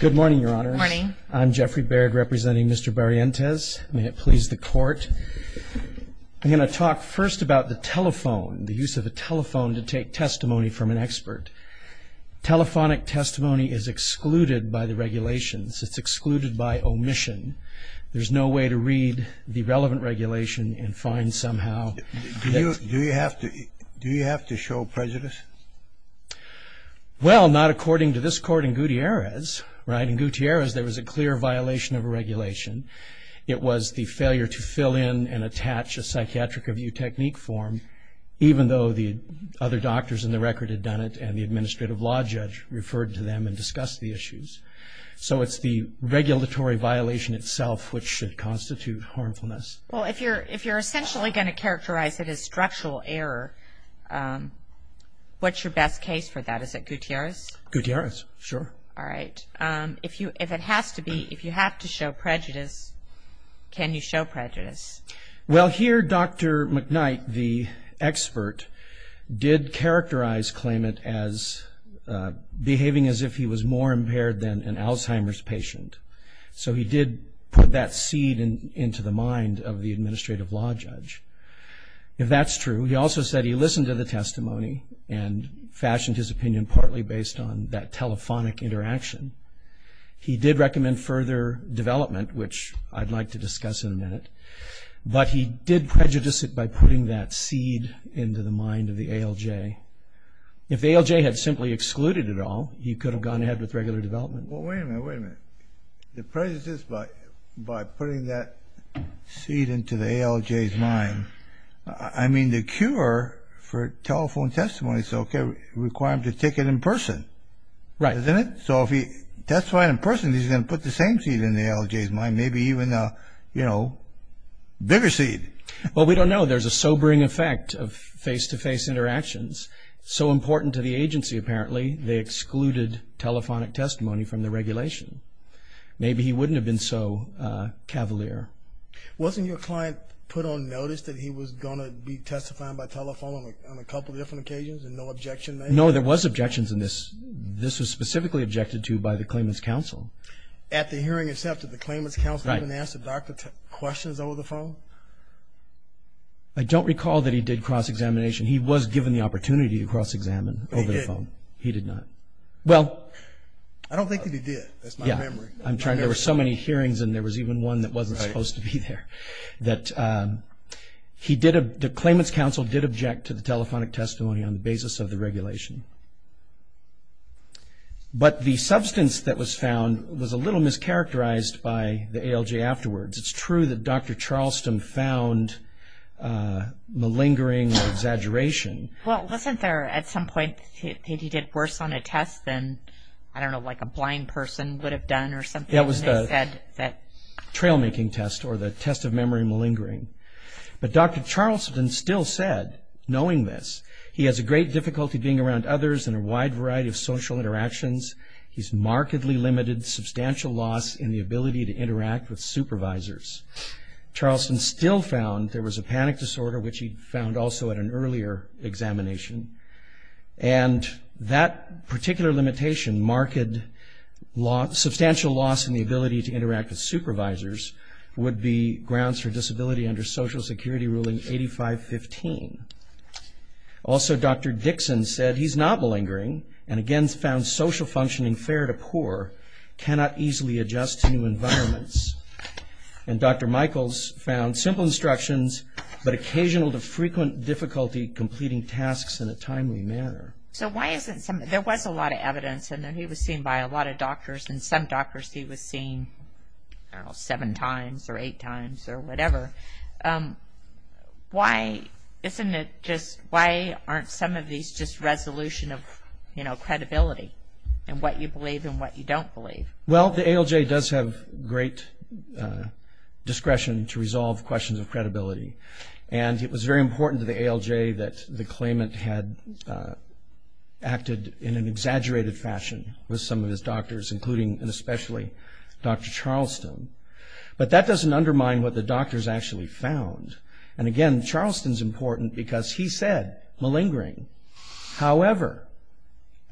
Good morning, Your Honor. Morning. I'm Jeffrey Baird representing Mr. Barrientez. May it please the court. I'm going to talk first about the telephone, the use of a telephone to take testimony from an expert. Telephonic testimony is excluded by the regulations. It's excluded by omission. There's no way to read the relevant regulation and find somehow. Do you have to, do you have to show prejudice? Well, not according to this court in Gutierrez, right? In Gutierrez, there was a clear violation of a regulation. It was the failure to fill in and attach a psychiatric review technique form, even though the other doctors in the record had done it and the administrative law judge referred to them and discussed the issues. So it's the regulatory violation itself, which should constitute harmfulness. Well, if you're, if you're essentially going to characterize it as structural error, what's your best case for that? Is it Gutierrez? Gutierrez, sure. All right. If you, if it has to be, if you have to show prejudice, can you show prejudice? Well here, Dr. McKnight, the expert, did characterize claimant as behaving as if he was more impaired than an Alzheimer's patient. So he did put that seed into the mind of the administrative law judge. If that's true, he also said he listened to the testimony and fashioned his opinion partly based on that telephonic interaction. He did recommend further development, which I'd like to discuss in a minute, but he did prejudice it by putting that seed into the mind of the ALJ. If the ALJ had simply excluded it all, he could have gone ahead with regular development. Well, wait a minute, wait a minute. The prejudice by, by putting that seed into the ALJ's mind, I mean the cure for telephone testimony is okay. Require him to take it in person. Right. Isn't it? So if he testified in person, he's going to put the same seed in the ALJ's mind, maybe even a, you know, bigger seed. Well, we don't know. There's a sobering effect of face-to-face interactions. So important to the agency, apparently, they excluded telephonic testimony from the regulation. Maybe he wouldn't have been so cavalier. Wasn't your client put on notice that he was going to be testifying by telephone on a couple of different occasions and no objection? No, there was objections in this. This was specifically objected to by the claimant's counsel. At the hearing itself, did the claimant's counsel even ask the doctor questions over the phone? I don't recall that he did cross-examination. He was given the opportunity to cross-examine over the phone. He did not. Well, I I'm trying, there were so many hearings and there was even one that wasn't supposed to be there, that he did, the claimant's counsel did object to the telephonic testimony on the basis of the regulation. But the substance that was found was a little mischaracterized by the ALJ afterwards. It's true that Dr. Charleston found malingering or exaggeration. Well, wasn't there at some point that he did worse on a test than, I don't know, like a blind person would have done or something, and they said that... It was the trail-making test or the test of memory malingering. But Dr. Charleston still said, knowing this, he has a great difficulty being around others and a wide variety of social interactions. He's markedly limited substantial loss in the ability to interact with supervisors. Charleston still found there was a panic disorder, which he found also at an earlier examination, and that particular limitation marked substantial loss in the ability to interact with supervisors would be grounds for disability under Social Security Ruling 8515. Also, Dr. Dixon said he's not malingering and again found social functioning fair to poor, cannot easily adjust to new environments, and Dr. Michaels found simple instructions, but occasional to frequent difficulty completing tasks in a timely manner. So why isn't some... there was a lot of evidence, and then he was seen by a lot of doctors, and some doctors he was seen, I don't know, seven times or eight times or whatever. Why isn't it just... why aren't some of these just resolution of, you know, credibility and what you believe and what you don't believe? Well, the ALJ does have great discretion to resolve questions of credibility, and it was very important to the ALJ that the claimant had acted in an exaggerated fashion with some of his doctors, including and especially Dr. Charleston. But that doesn't undermine what the doctors actually found, and again, Charleston's important because he said, malingering. However,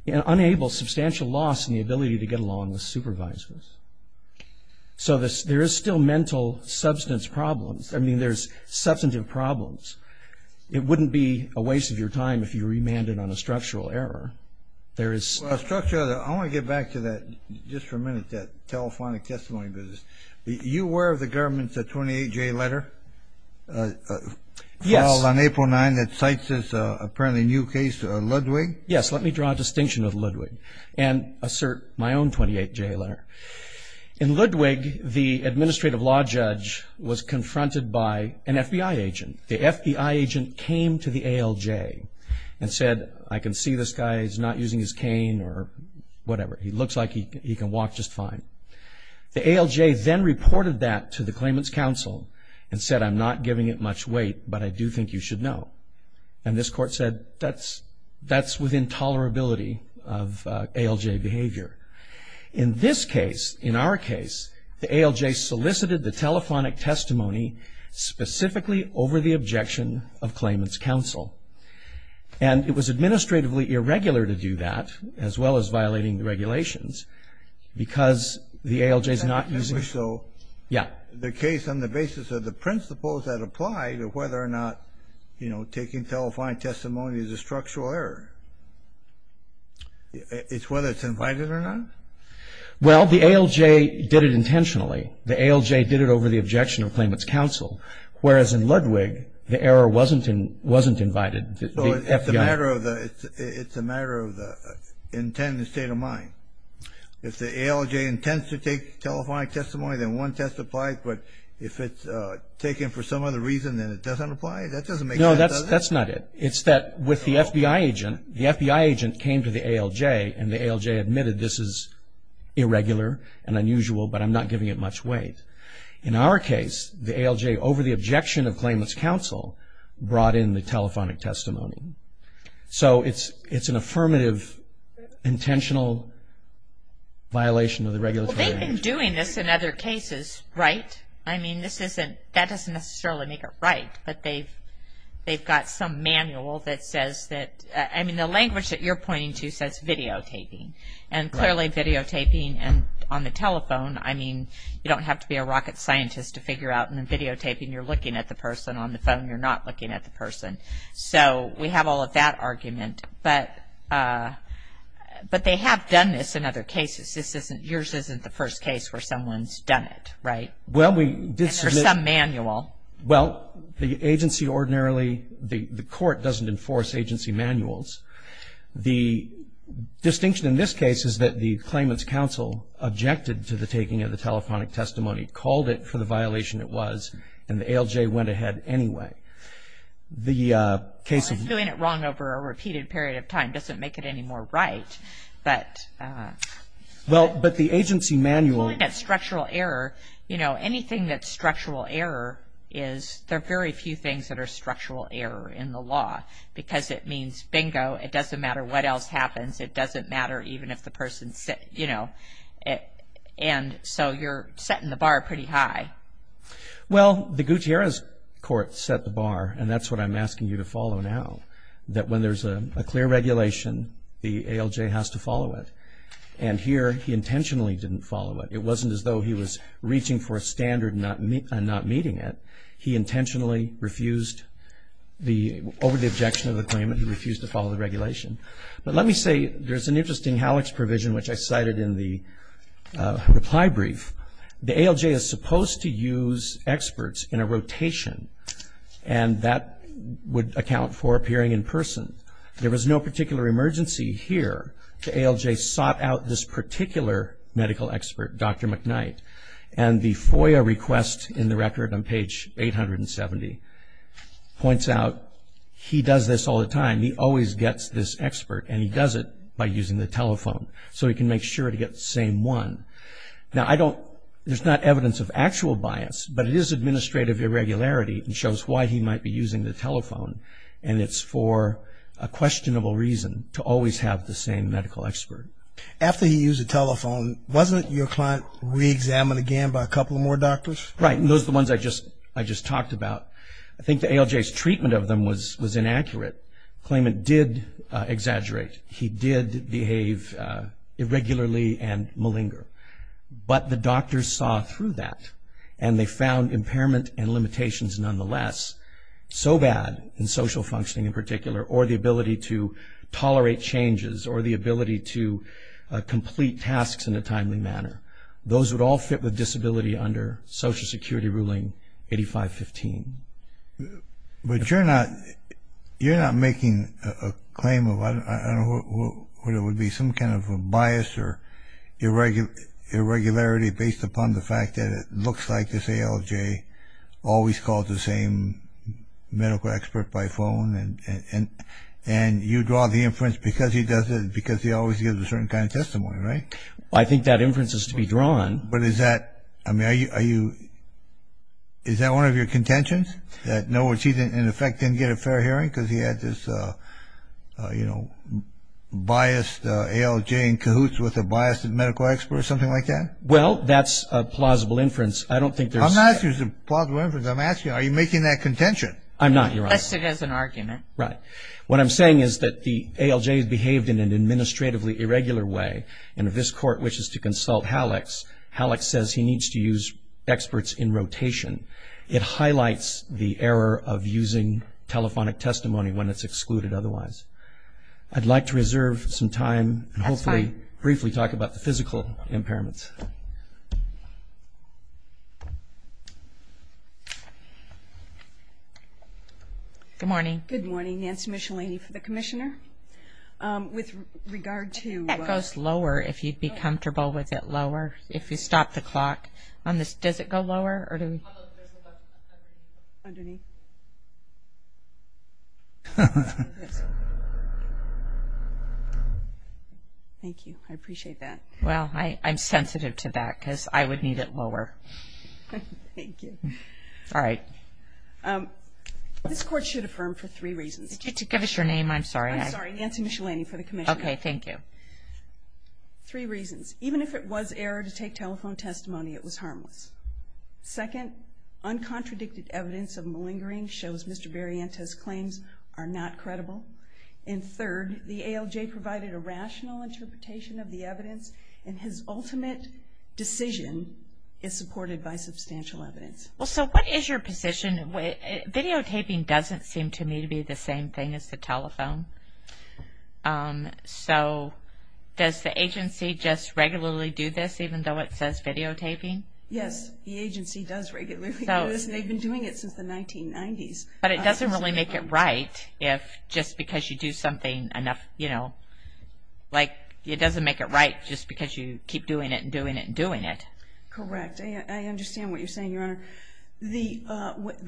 it enables substantial loss in the ability to get along with supervisors. So there is still mental substance problems. I mean, there's substantive problems. It wouldn't be a waste of your time if you remanded on a structural error. There is... Well, a structure... I want to get back to that, just for a minute, that telephonic testimony business. You aware of the government's 28-J letter? Yes. Filed on April 9 that cites this apparently new case, Ludwig? Yes. Let me draw a distinction of Ludwig and assert my own 28-J letter. In Ludwig, the administrative law judge was confronted by an FBI agent. The FBI agent came to the ALJ and said, I can see this guy is not using his cane or whatever. He looks like he can walk just fine. The ALJ then reported that to the claimant's counsel and said, I'm not giving it much weight, but I do think you should know. And this court said, that's with intolerability of The ALJ solicited the telephonic testimony specifically over the objection of claimant's counsel. And it was administratively irregular to do that, as well as violating the regulations, because the ALJ is not using... Yeah. The case on the basis of the principles that apply to whether or not, you know, taking telephonic testimony is a structural error. It's whether it's invited or not? Well, the ALJ did it intentionally. The ALJ did it over the objection of claimant's counsel. Whereas in Ludwig, the error wasn't invited. It's a matter of the intent and the state of mind. If the ALJ intends to take telephonic testimony, then one test applies. But if it's taken for some other reason, then it doesn't apply. That doesn't make sense, does it? No, that's not it. It's that with the FBI agent, the FBI agent came to the ALJ and the ALJ admitted, this is irregular and unusual, but I'm not giving it much weight. In our case, the ALJ, over the objection of claimant's counsel, brought in the telephonic testimony. So it's an affirmative, intentional violation of the regulatory... Well, they've been doing this in other cases, right? I mean, this isn't... that doesn't necessarily make it right. But they've got some manual that says that... I mean, the language that you're pointing to says videotaping. And clearly videotaping on the telephone, I mean, you don't have to be a rocket scientist to figure out. And then videotaping, you're looking at the person on the phone. You're not looking at the person. So we have all of that argument. But they have done this in other cases. This isn't... yours isn't the first case where someone's done it, right? Well, we did submit... And there's some manual. Well, the agency ordinarily, the court doesn't enforce agency manuals. The distinction in this case is that the claimant's counsel objected to the taking of the telephonic testimony, called it for the violation it was, and the ALJ went ahead anyway. The case of... Well, doing it wrong over a repeated period of time doesn't make it any more right. But... Well, but the agency manual... You know, anything that's structural error is... There are very few things that are structural error in the law. Because it means, bingo, it doesn't matter what else happens. It doesn't matter even if the person's, you know... And so you're setting the bar pretty high. Well, the Gutierrez court set the bar, and that's what I'm asking you to follow now. That when there's a clear regulation, the ALJ has to follow it. And here, he intentionally didn't follow it. It wasn't as though he was reaching for a standard and not meeting it. He intentionally refused the... Over the objection of the claimant, he refused to follow the regulation. But let me say, there's an interesting HALEX provision, which I cited in the reply brief. The ALJ is supposed to use experts in a rotation, and that would account for appearing in person. There was no particular emergency here. The ALJ sought out this particular medical expert, Dr. McKnight. And the FOIA request in the record on page 870 points out, he does this all the time. He always gets this expert, and he does it by using the telephone. So he can make sure to get the same one. Now, I don't... There's not evidence of actual bias, but it is administrative irregularity and shows why he might be using the telephone. And it's for a questionable reason to always have the same medical expert. After he used the telephone, wasn't your client re-examined again by a couple of more doctors? Right. And those are the ones I just talked about. I think the ALJ's treatment of them was inaccurate. The claimant did exaggerate. He did behave irregularly and malinger. But the doctors saw through that, and they found impairment and limitations nonetheless. So bad in social functioning in particular, or the ability to tolerate changes, or the ability to complete tasks in a timely manner. Those would all fit with disability under Social Security Ruling 8515. But you're not making a claim of, I don't know what it would be, some kind of a bias or irregularity based upon the fact that it looks like this ALJ always calls the same medical expert by phone, and you draw the inference because he does it, because he always gives a certain kind of testimony, right? I think that inference is to be drawn. But is that, I mean, are you, is that one of your contentions? That in effect he didn't get a fair hearing because he had this, you know, biased ALJ in cahoots with a biased medical expert, something like that? Well, that's a plausible inference. I don't think there's. I'm not asking if it's a plausible inference. I'm asking, are you making that contention? I'm not, Your Honor. Assessed it as an argument. Right. What I'm saying is that the ALJ behaved in an administratively irregular way, and if this Court wishes to consult Halleck's, Halleck says he needs to use experts in rotation. It highlights the error of using telephonic testimony when it's excluded otherwise. I'd like to reserve some time and hopefully briefly talk about the physical impairments. Good morning. Good morning. Nancy Michelini for the Commissioner. With regard to. That goes lower if you'd be comfortable with it lower. If you stop the clock on this. Does it go lower or do we. Underneath. Thank you. I appreciate that. Well, I'm sensitive to that because I would need it lower. Thank you. All right. This Court should affirm for three reasons. Could you give us your name? I'm sorry. I'm sorry. Nancy Michelini for the Commissioner. Okay. Thank you. Three reasons. Even if it was error to take telephone testimony, it was harmless. Second, uncontradicted evidence of malingering shows Mr. Barrientos claims are not credible. And third, the ALJ provided a rational interpretation of the evidence and his is not supported by substantial evidence. Well, so what is your position? Videotaping doesn't seem to me to be the same thing as the telephone. So does the agency just regularly do this even though it says videotaping? Yes, the agency does regularly do this and they've been doing it since the 1990s. But it doesn't really make it right if just because you do something enough, you know, like it doesn't make it right just because you keep doing it and doing it and doing it. Correct. I understand what you're saying, Your Honor. The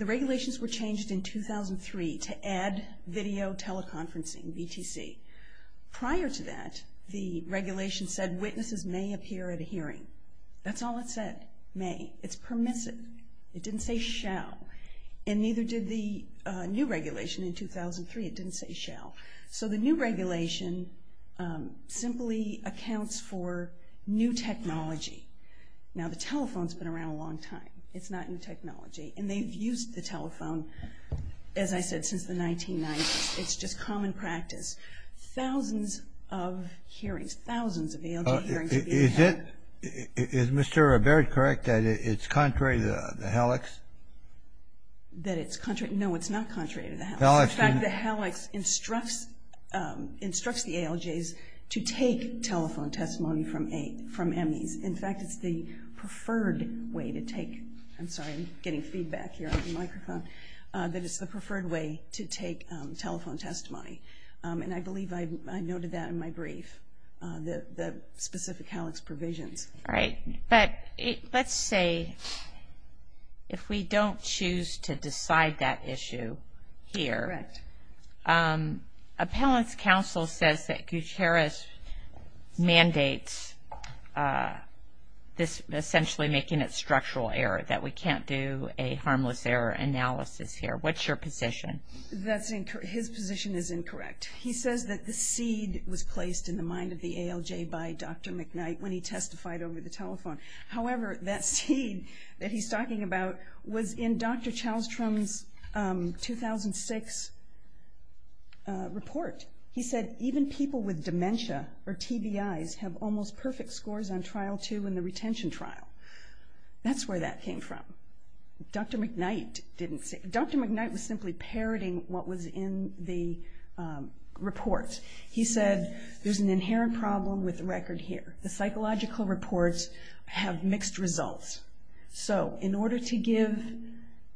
regulations were changed in 2003 to add video teleconferencing, BTC. Prior to that, the regulation said witnesses may appear at a hearing. That's all it said, may. It's permissive. It didn't say shall. And neither did the new regulation in 2003. It didn't say shall. So the new regulation simply accounts for new technology. Now, the telephone's been around a long time. It's not new technology. And they've used the telephone, as I said, since the 1990s. It's just common practice. Thousands of hearings, thousands of ALJ hearings have been held. Is it, is Mr. Robert correct that it's contrary to the HALEX? That it's contrary? No, it's not contrary to the HALEX. In fact, the HALEX instructs, instructs the ALJs to take telephone testimony from EMIs. In fact, it's the preferred way to take, I'm sorry, I'm getting feedback here on the microphone, that it's the preferred way to take telephone testimony. And I believe I noted that in my brief, the specific HALEX provisions. All right. But let's say if we don't choose to decide that issue here, Appellant's Counsel says that Gutierrez mandates this essentially making it structural error, that we can't do a harmless error analysis here. What's your position? That's incorrect. His position is incorrect. He says that the seed was placed in the mind of the ALJ by Dr. McKnight when he testified over the telephone. However, that seed that he's talking about was in Dr. Chalstrom's 2006 report. He said, even people with dementia or TBIs have almost perfect scores on Trial 2 in the retention trial. That's where that came from. Dr. McKnight didn't say, Dr. McKnight was simply parroting what was in the report. He said, there's an inherent problem with the record here. The psychological reports have mixed results. So in order to give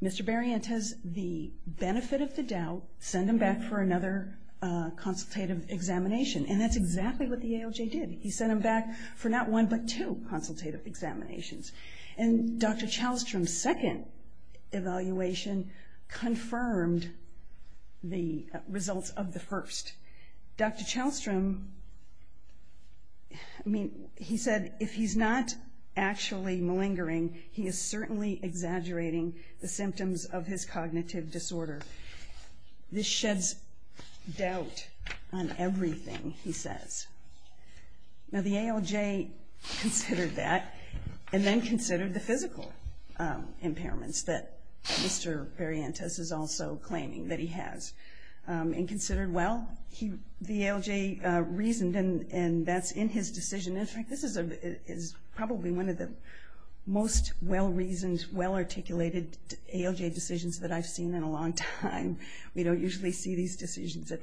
Mr. McKnight the benefit of the doubt, send him back for another consultative examination. And that's exactly what the ALJ did. He sent him back for not one, but two consultative examinations. And Dr. Chalstrom's second evaluation confirmed the results of the first. Dr. Chalstrom, I mean, he said, if he's not actually malingering, he is certainly exaggerating the symptoms of his cognitive disorder. This sheds doubt on everything, he says. Now the ALJ considered that and then considered the physical impairments that Mr. Variantes is also claiming that he has and considered, well, the ALJ reasoned, and that's in his decision. In fact, this is probably one of the most well-reasoned, well-articulated ALJ decisions that I've seen in a long time. We don't usually see these decisions at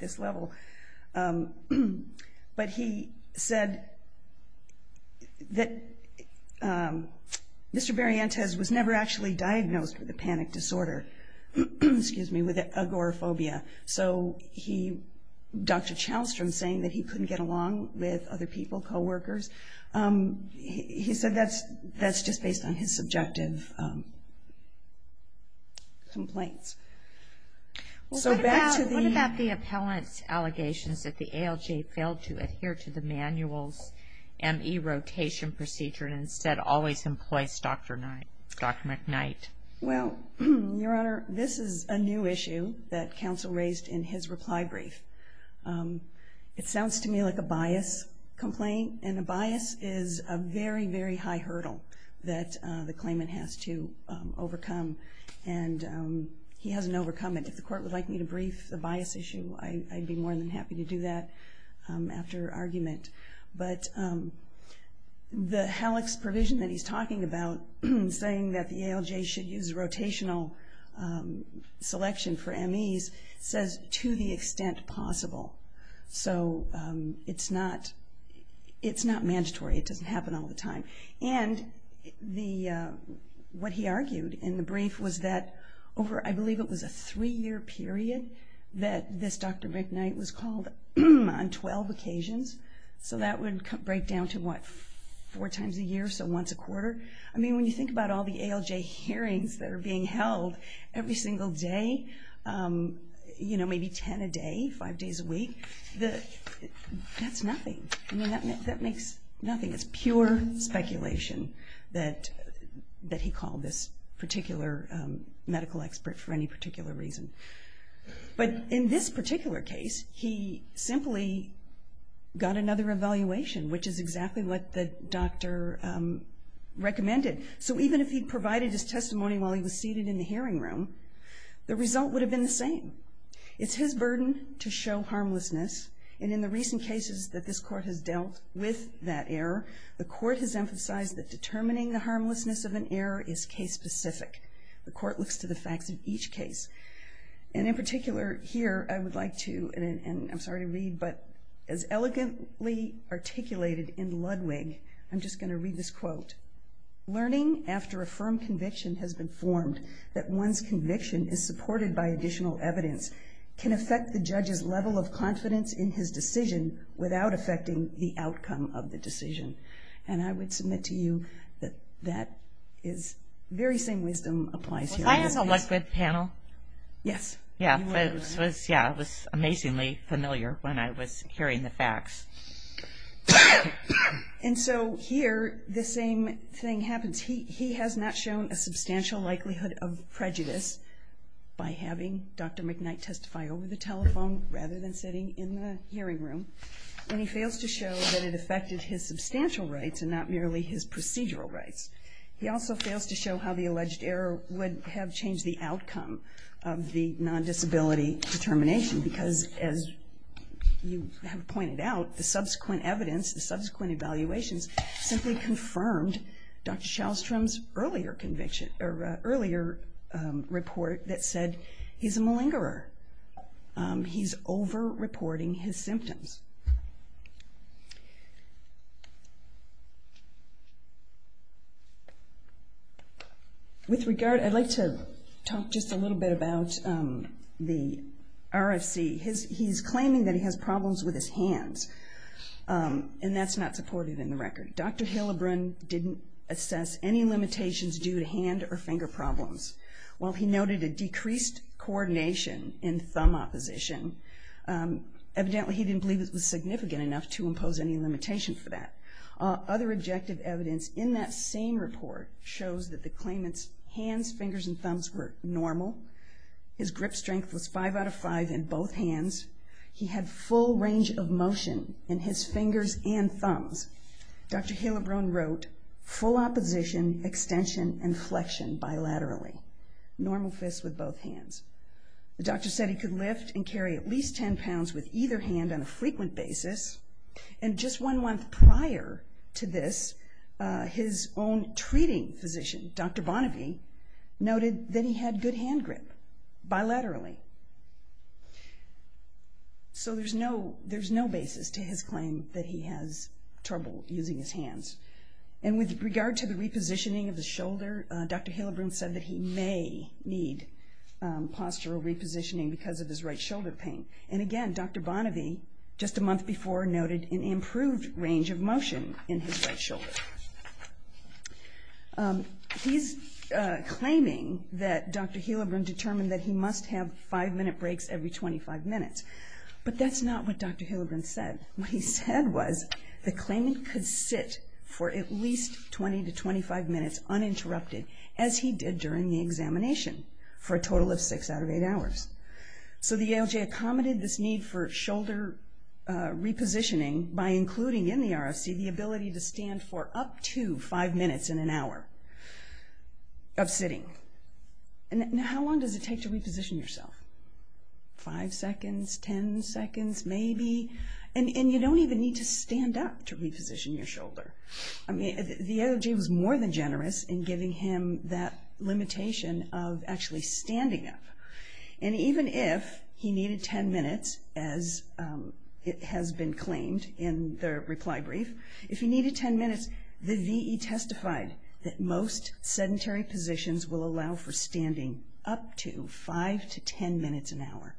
this level. But he said that Mr. Variantes was never actually diagnosed with a panic disorder, with agoraphobia. So Dr. Chalstrom saying that he couldn't get along with other people, co-workers, he said that's just based on his subjective complaints. So back to the... What about the appellant's allegations that the ALJ failed to adhere to the manuals and E-rotation procedure and instead always employs Dr. Knight, Dr. McKnight? Well, Your Honor, this is a new issue that counsel raised in his reply brief. It sounds to me like a bias complaint, and a bias is a very, very high hurdle that the claimant has to overcome. And he hasn't overcome it. If the court would like me to brief the bias issue, I'd be more than happy to do that after argument. But the HALEX provision that he's talking about, saying that the ALJ should use E-rotation as soon as possible, so it's not mandatory. It doesn't happen all the time. And what he argued in the brief was that over, I believe it was a three-year period, that this Dr. McKnight was called on 12 occasions. So that would break down to what, four times a year? So once a quarter? I mean, when you think about all the ALJ hearings that are being held every single day, you know, maybe 10 a day, five days a week, that's nothing. I mean, that makes nothing. It's pure speculation that he called this particular medical expert for any particular reason. But in this particular case, he simply got another evaluation, which is exactly what the doctor recommended. So even if he provided his testimony while he was seated in the hearing room, the result would have been the same. It's his burden to show harmlessness. And in the recent cases that this court has dealt with that error, the court has emphasized that determining the harmlessness of an error is case specific. The court looks to the facts of each case. And in particular here, I would like to, and I'm sorry to read, but as elegantly articulated in Ludwig, I'm just going to read this quote. Learning after a firm conviction has been formed that one's conviction is supported by additional evidence can affect the judge's level of confidence in his decision without affecting the outcome of the decision. And I would submit to you that that is very same wisdom applies here. Was I on the Ludwig panel? Yes. Yeah, it was, yeah, it was amazingly familiar when I was hearing the facts. And so here the same thing happens. He has not shown a substantial likelihood of prejudice by having Dr. McKnight testify over the telephone rather than sitting in the hearing room. And he fails to show that it affected his substantial rights and not merely his procedural rights. He also fails to show how the alleged error would have changed the outcome of the subsequent evidence, the subsequent evaluations simply confirmed Dr. Shalstrom's earlier conviction or earlier report that said he's a malingerer. He's over-reporting his symptoms. With regard, I'd like to talk just a little bit about the RFC. He's claiming that he has problems with his hands. And that's not supported in the record. Dr. Hillebrand didn't assess any limitations due to hand or finger problems. While he noted a decreased coordination in thumb opposition, evidently he didn't believe it was significant enough to impose any limitation for that. Other objective evidence in that same report shows that the claimant's hands, fingers, and thumbs were normal. His grip strength was five out of five in both hands. He had full range of motion in his fingers and thumbs. Dr. Hillebrand wrote, full opposition, extension, and flexion bilaterally. Normal fists with both hands. The doctor said he could lift and carry at least 10 pounds with either hand on a frequent basis. And just one month prior to this, his own treating physician, Dr. Bonnevie, noted that he had good hand grip bilaterally. So there's no basis to his claim that he has trouble using his hands. And with regard to the repositioning of the shoulder, Dr. Hillebrand said that he may need postural repositioning because of his right shoulder pain. And again, Dr. Bonnevie, just a month before, noted an improved range of motion in his right shoulder. He's claiming that Dr. Hillebrand determined that he must have five minute breaks every 25 minutes. But that's not what Dr. Hillebrand said. What he said was the claimant could sit for at least 20 to 25 minutes uninterrupted as he did during the examination for a total of six out of eight hours. So the ALJ accommodated this need for shoulder repositioning by including in the RFC the ability to stand for up to five minutes in an hour of sitting. And how long does it take to reposition yourself? Five seconds, 10 seconds, maybe. And you don't even need to stand up to reposition your shoulder. I mean, the ALJ was more than generous in giving him that limitation of actually standing up. And even if he needed 10 minutes, as it has been claimed in the reply brief, if he needed 10 minutes, the VE testified that most sedentary positions will allow for standing up to five to 10 minutes an hour.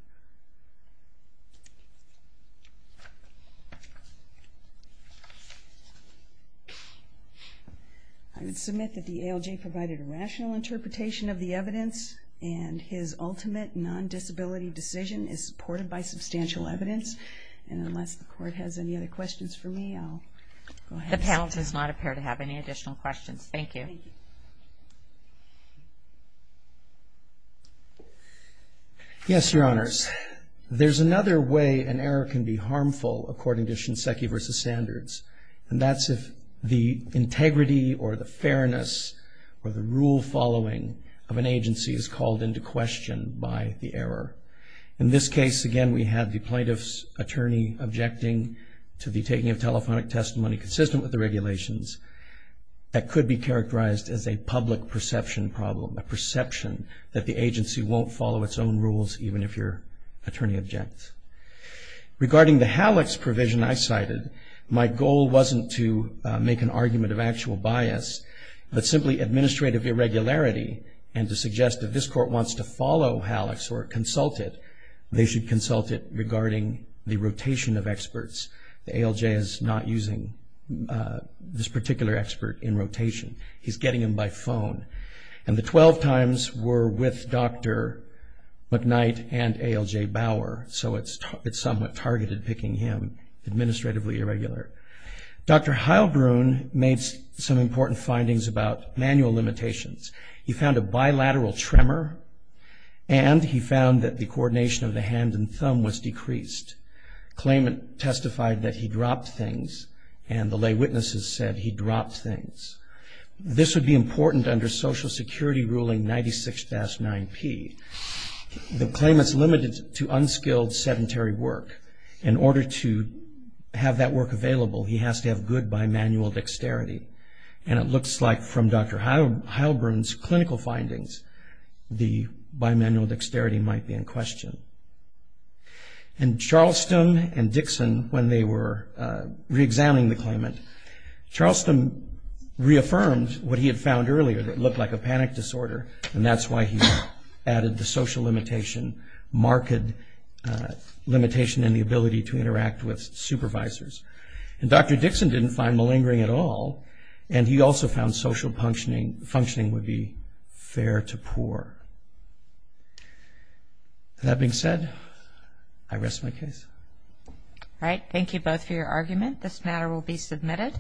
I would submit that the ALJ provided a rational interpretation of the evidence and his ultimate non-disability decision is supported by substantial evidence. And unless the court has any other questions for me, I'll go ahead. The panel does not appear to have any additional questions. Thank you. Yes, Your Honors, there's another way an error can be harmful according to Shinseki v. Standards, and that's if the integrity or the fairness or the rule following of an agency is called into question by the error. In this case, again, we had the plaintiff's attorney objecting to the taking of telephonic testimony consistent with the regulations that could be characterized as a public perception problem, a perception that the agency won't follow its own rules even if your attorney objects. Regarding the HALEX provision I cited, my goal wasn't to make an argument of actual bias, but simply administrative irregularity and to suggest that this court wants to follow HALEX or consult it, they should consult it regarding the rotation of experts. The ALJ is not using this particular expert in rotation. He's getting them by phone. And the 12 times were with Dr. McKnight and ALJ Bauer, so it's somewhat targeted picking him administratively irregular. Dr. Heilbrun made some important findings about manual limitations. He found a bilateral tremor, and he found that the coordination of the hand and thumb was decreased. Claimant testified that he dropped things, and the lay witnesses said he dropped things. This would be important under Social Security ruling 96-9P. The claimant's limited to unskilled sedentary work. In order to have that work available, he has to have good bimanual dexterity. And it looks like from Dr. Heilbrun's clinical findings, the bimanual dexterity might be in question. And Charleston and Dixon, when they were reexamining the claimant, Charleston reaffirmed what he had found earlier that looked like a panic disorder, and that's why he added the social limitation, marked limitation in the ability to interact with supervisors. And Dr. Dixon didn't find malingering at all, and he also found social functioning would be fair to poor. That being said, I rest my case. All right. Thank you both for your argument. This matter will be submitted.